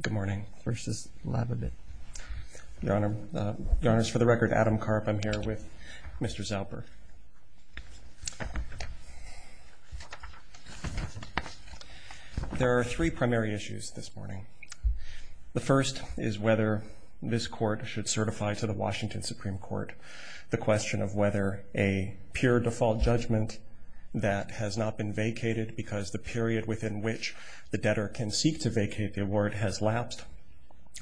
Good morning. First is Lababit. Your Honor, for the record, Adam Karp. I'm here with Mr. Zauber. There are three primary issues this morning. The first is whether this court should certify to the Washington Supreme Court the question of whether a pure default judgment that has not been vacated because the period within which the debtor can seek to vacate the award has lapsed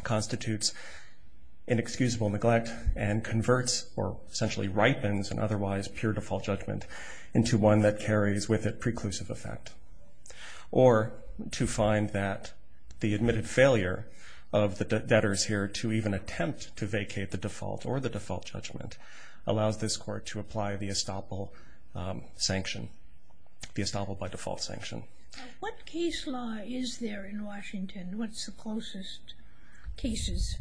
constitutes inexcusable neglect and converts, or essentially ripens, an otherwise pure default judgment into one that carries with it preclusive effect. Or to find that the admitted failure of the debtors here to even attempt to vacate the default or the default judgment allows this court to apply the estoppel sanction, the estoppel by default sanction. What case law is there in Washington? What's the closest cases?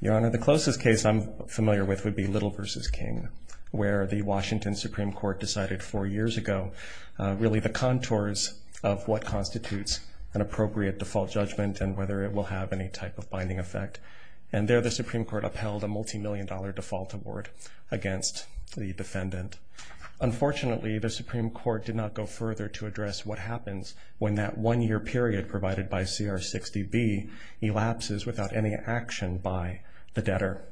Your Honor, the closest case I'm familiar with would be Little v. King, where the Washington Supreme Court decided four years ago really the contours of what constitutes an appropriate default judgment and whether it will have any type of binding effect. And there, the Supreme Court upheld a multimillion dollar default award against the defendant. Unfortunately, the Supreme Court did not go further to address what happens when that one year period provided by CR 60B elapses without any action by the debtor.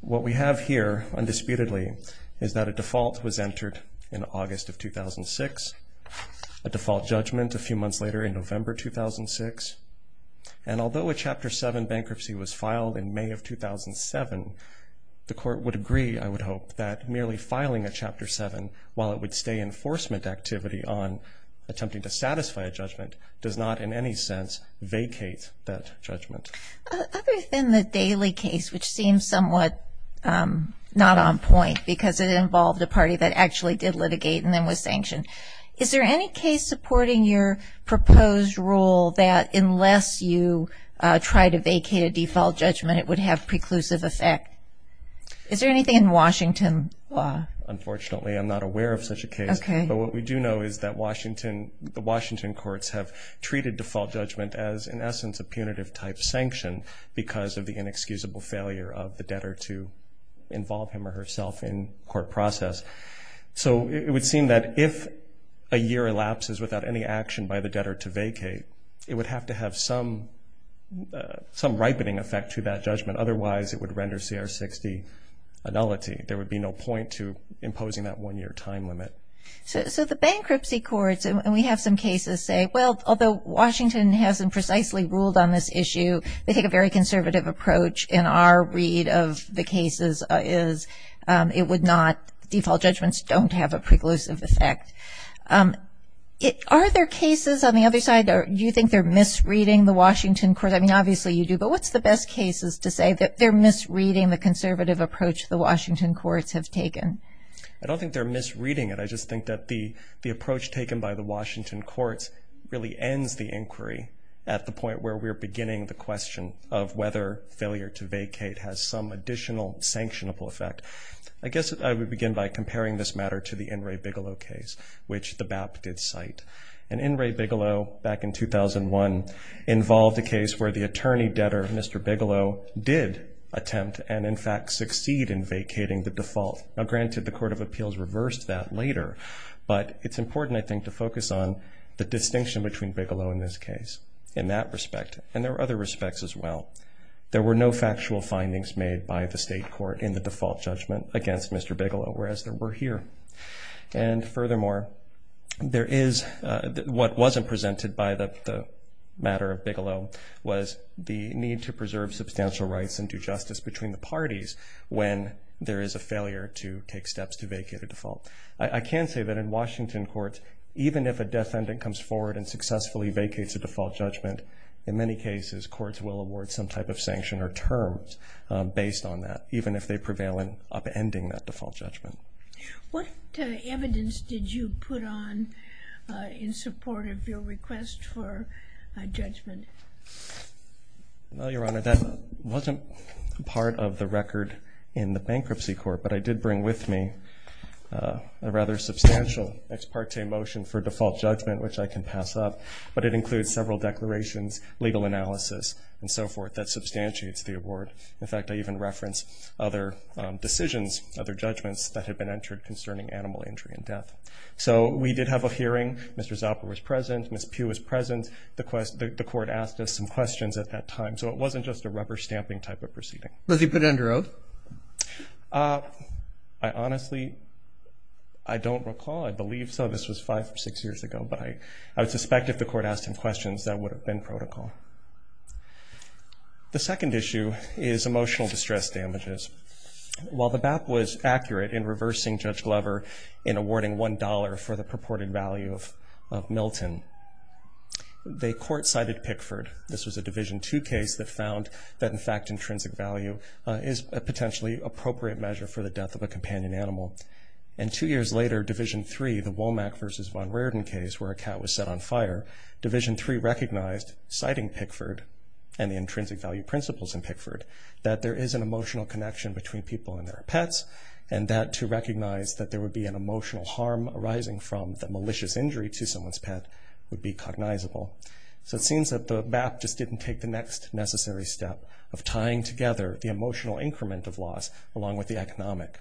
What we have here, undisputedly, is that a default was entered in August of 2006, a default judgment a few months later in November 2006. And although a Chapter 7 bankruptcy was filed in May of 2007, the court would agree, I would hope, that merely filing a Chapter 7, while it would stay enforcement activity on attempting to satisfy a judgment, does not in any sense vacate that judgment. Other than the Daley case, which seems somewhat not on point because it involved a party that actually did litigate and then was sanctioned, is there any case supporting your proposed rule that unless you try to vacate a default judgment, it would have preclusive effect? Is there anything in Washington law? Unfortunately, I'm not aware of such a case. But what we do know is that the Washington courts have treated default judgment as, in essence, a punitive type sanction because of the inexcusable failure of the debtor to involve him or herself in court process. So it would seem that if a year elapses without any action by the debtor to vacate, it would have to have some ripening effect to that judgment. Otherwise, it would render CR 60 a nullity. There would be no point to imposing that one-year time limit. So the bankruptcy courts, and we have some cases say, well, although Washington hasn't precisely ruled on this issue, they take a very conservative approach. In our read of the cases is it would not, default judgments don't have a preclusive effect. Are there cases on the other side, do you think they're misreading the Washington court? I mean, obviously you do. But what's the best cases to say that they're misreading the conservative approach the Washington courts have taken? I don't think they're misreading it. I just think that the approach taken by the Washington courts really ends the inquiry at the point where we're beginning the question of whether failure to vacate has some additional sanctionable effect. I guess I would begin by comparing this matter to the In re Bigelow case, which the BAP did cite. And In re Bigelow, back in 2001, involved a case where the attorney debtor, Mr. Bigelow, did attempt and, in fact, succeed in vacating the default. Now, granted, the Court of Appeals reversed that later. But it's important, I think, to focus on the distinction between Bigelow in this case in that respect. And there are other respects as well. There were no factual findings made by the state court in the default judgment against Mr. Bigelow, whereas there were here. And furthermore, what wasn't presented by the matter of Bigelow was the need to preserve substantial rights and do justice between the parties when there is a failure to take steps to vacate a default. I can say that in Washington courts, even if a defendant comes forward and successfully vacates a default judgment, in many cases, courts will award some type of sanction or terms based on that, even if they prevail in upending that default judgment. What evidence did you put on in support of your request for a judgment? Well, Your Honor, that wasn't part of the record in the bankruptcy court. But I did bring with me a rather substantial ex parte motion for default judgment, which I can pass up. But it includes several declarations, legal analysis, and so forth that substantiates the award. In fact, I even referenced other decisions, other judgments that had been entered concerning animal injury and death. So we did have a hearing. Mr. Zalper was present. Ms. Pugh was present. The court asked us some questions at that time. So it wasn't just a rubber stamping type of proceeding. Was he put under oath? I honestly, I don't recall. I believe so. This was five or six years ago. But I would suspect if the court asked him questions, that would have been protocol. The second issue is emotional distress damages. While the BAP was accurate in reversing Judge Glover in awarding $1 for the purported value of Milton, the court cited Pickford. This was a Division II case that found that, in fact, intrinsic value is a potentially appropriate measure for the death of a companion animal. And two years later, Division III, the Womack versus Von Raerden case, where a cat was set on fire, Division III recognized, citing Pickford and the intrinsic value principles in Pickford, that there is an emotional connection between people and their pets. And that to recognize that there would be an emotional harm arising from the malicious injury to someone's pet would be cognizable. So it seems that the BAP just didn't take the next necessary step of tying together the emotional increment of loss along with the economic.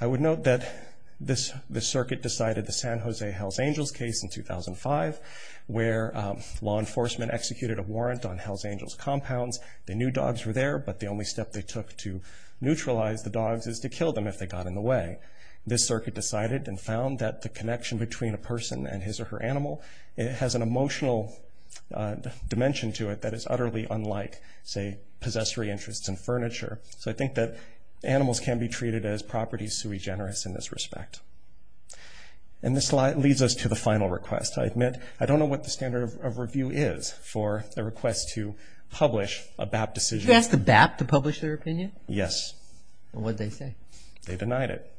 I would note that the circuit decided the San Jose Hells Angels case in 2005, where law enforcement executed a warrant on Hells Angels compounds. They knew dogs were there. But the only step they took to neutralize the dogs is to kill them if they got in the way. This circuit decided and found that the connection between a person and his or her animal has an emotional dimension to it that is utterly unlike, say, possessory interests and furniture. So I think that animals can be treated as property sui generis in this respect. And this leads us to the final request. I admit, I don't know what the standard of review is for the request to publish a BAP decision. You asked the BAP to publish their opinion? Yes. And what did they say? They denied it.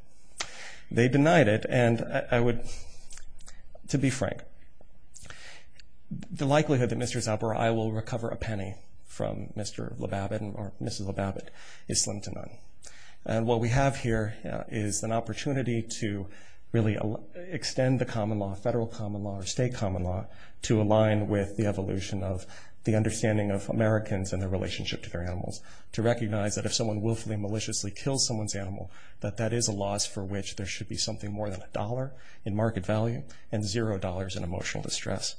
They denied it. And I would, to be frank, the likelihood that Mr. Zapparai will recover a penny from Mr. LeBabbitt or Mrs. LeBabbitt is slim to none. And what we have here is an opportunity to really extend the common law, federal common law, or state common law, to align with the evolution of the understanding of Americans and their relationship to their animals, to recognize that if someone willfully, maliciously kills someone's animal, that that is a loss for which there should be something more than $1 in market value and $0 in emotional distress.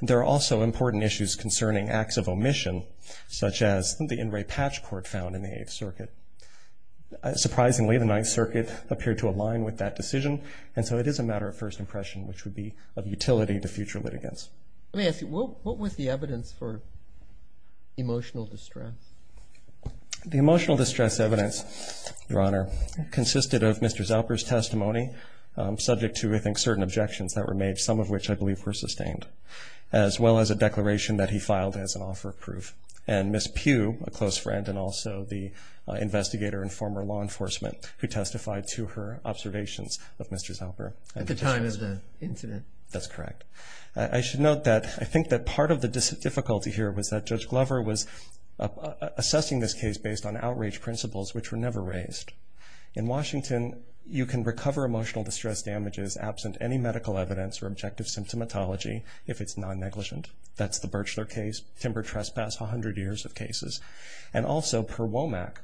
There are also important issues concerning acts of omission, such as the in-ray patch court found in the Eighth Circuit. Surprisingly, the Ninth Circuit appeared to align with that decision. And so it is a matter of first impression, which would be of utility to future litigants. Let me ask you, what was the evidence for emotional distress? The emotional distress evidence, Your Honor, consisted of Mr. Zapparai's testimony, subject to, I think, certain objections that were made, some of which I believe were sustained, as well as a declaration that he filed as an offer of proof. And Ms. Pugh, a close friend and also the investigator and former law enforcement who testified to her observations of Mr. Zapparai. At the time of the incident. That's correct. I should note that I think that part of the difficulty here was that Judge Glover was assessing this case based on outrage principles, which were never raised. In Washington, you can recover emotional distress damages absent any medical evidence or objective symptomatology if it's non-negligent. That's the Birchler case, timber trespass, 100 years of cases. And also, per WOMAC,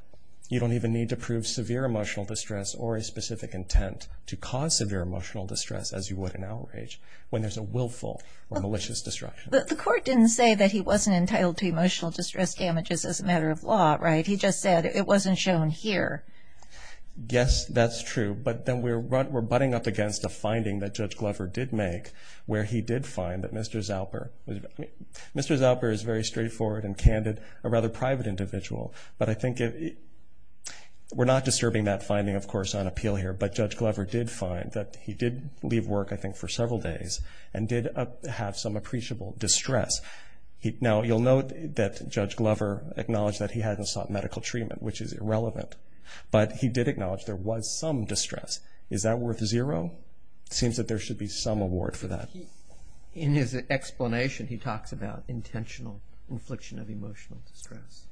you don't even need to prove severe emotional distress or a specific intent to cause severe emotional distress as you would an outrage. When there's a willful or malicious destruction. But the court didn't say that he wasn't entitled to emotional distress damages as a matter of law, right? He just said it wasn't shown here. Yes, that's true. But then we're butting up against a finding that Judge Glover did make where he did find that Mr. Zapparai. Mr. Zapparai is very straightforward and candid, a rather private individual. But I think we're not disturbing that finding, of course, on appeal here. But Judge Glover did find that he did leave work, I think, for several days and did have some appreciable distress. Now, you'll note that Judge Glover acknowledged that he hadn't sought medical treatment, which is irrelevant. But he did acknowledge there was some distress. Is that worth zero? Seems that there should be some award for that. In his explanation, he talks about intentional infliction of emotional distress,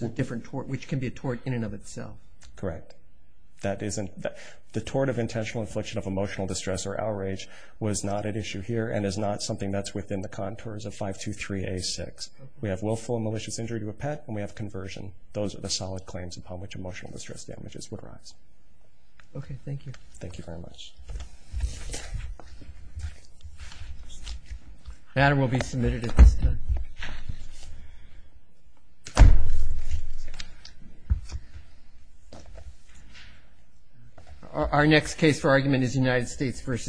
which can be a tort in and of itself. Correct. That isn't the tort of intentional infliction of emotional distress or outrage was not an issue here and is not something that's within the contours of 523A6. We have willful and malicious injury to a pet, and we have conversion. Those are the solid claims upon which emotional distress damages would arise. OK, thank you. Thank you very much. The matter will be submitted at this time. Our next case for argument is United States v.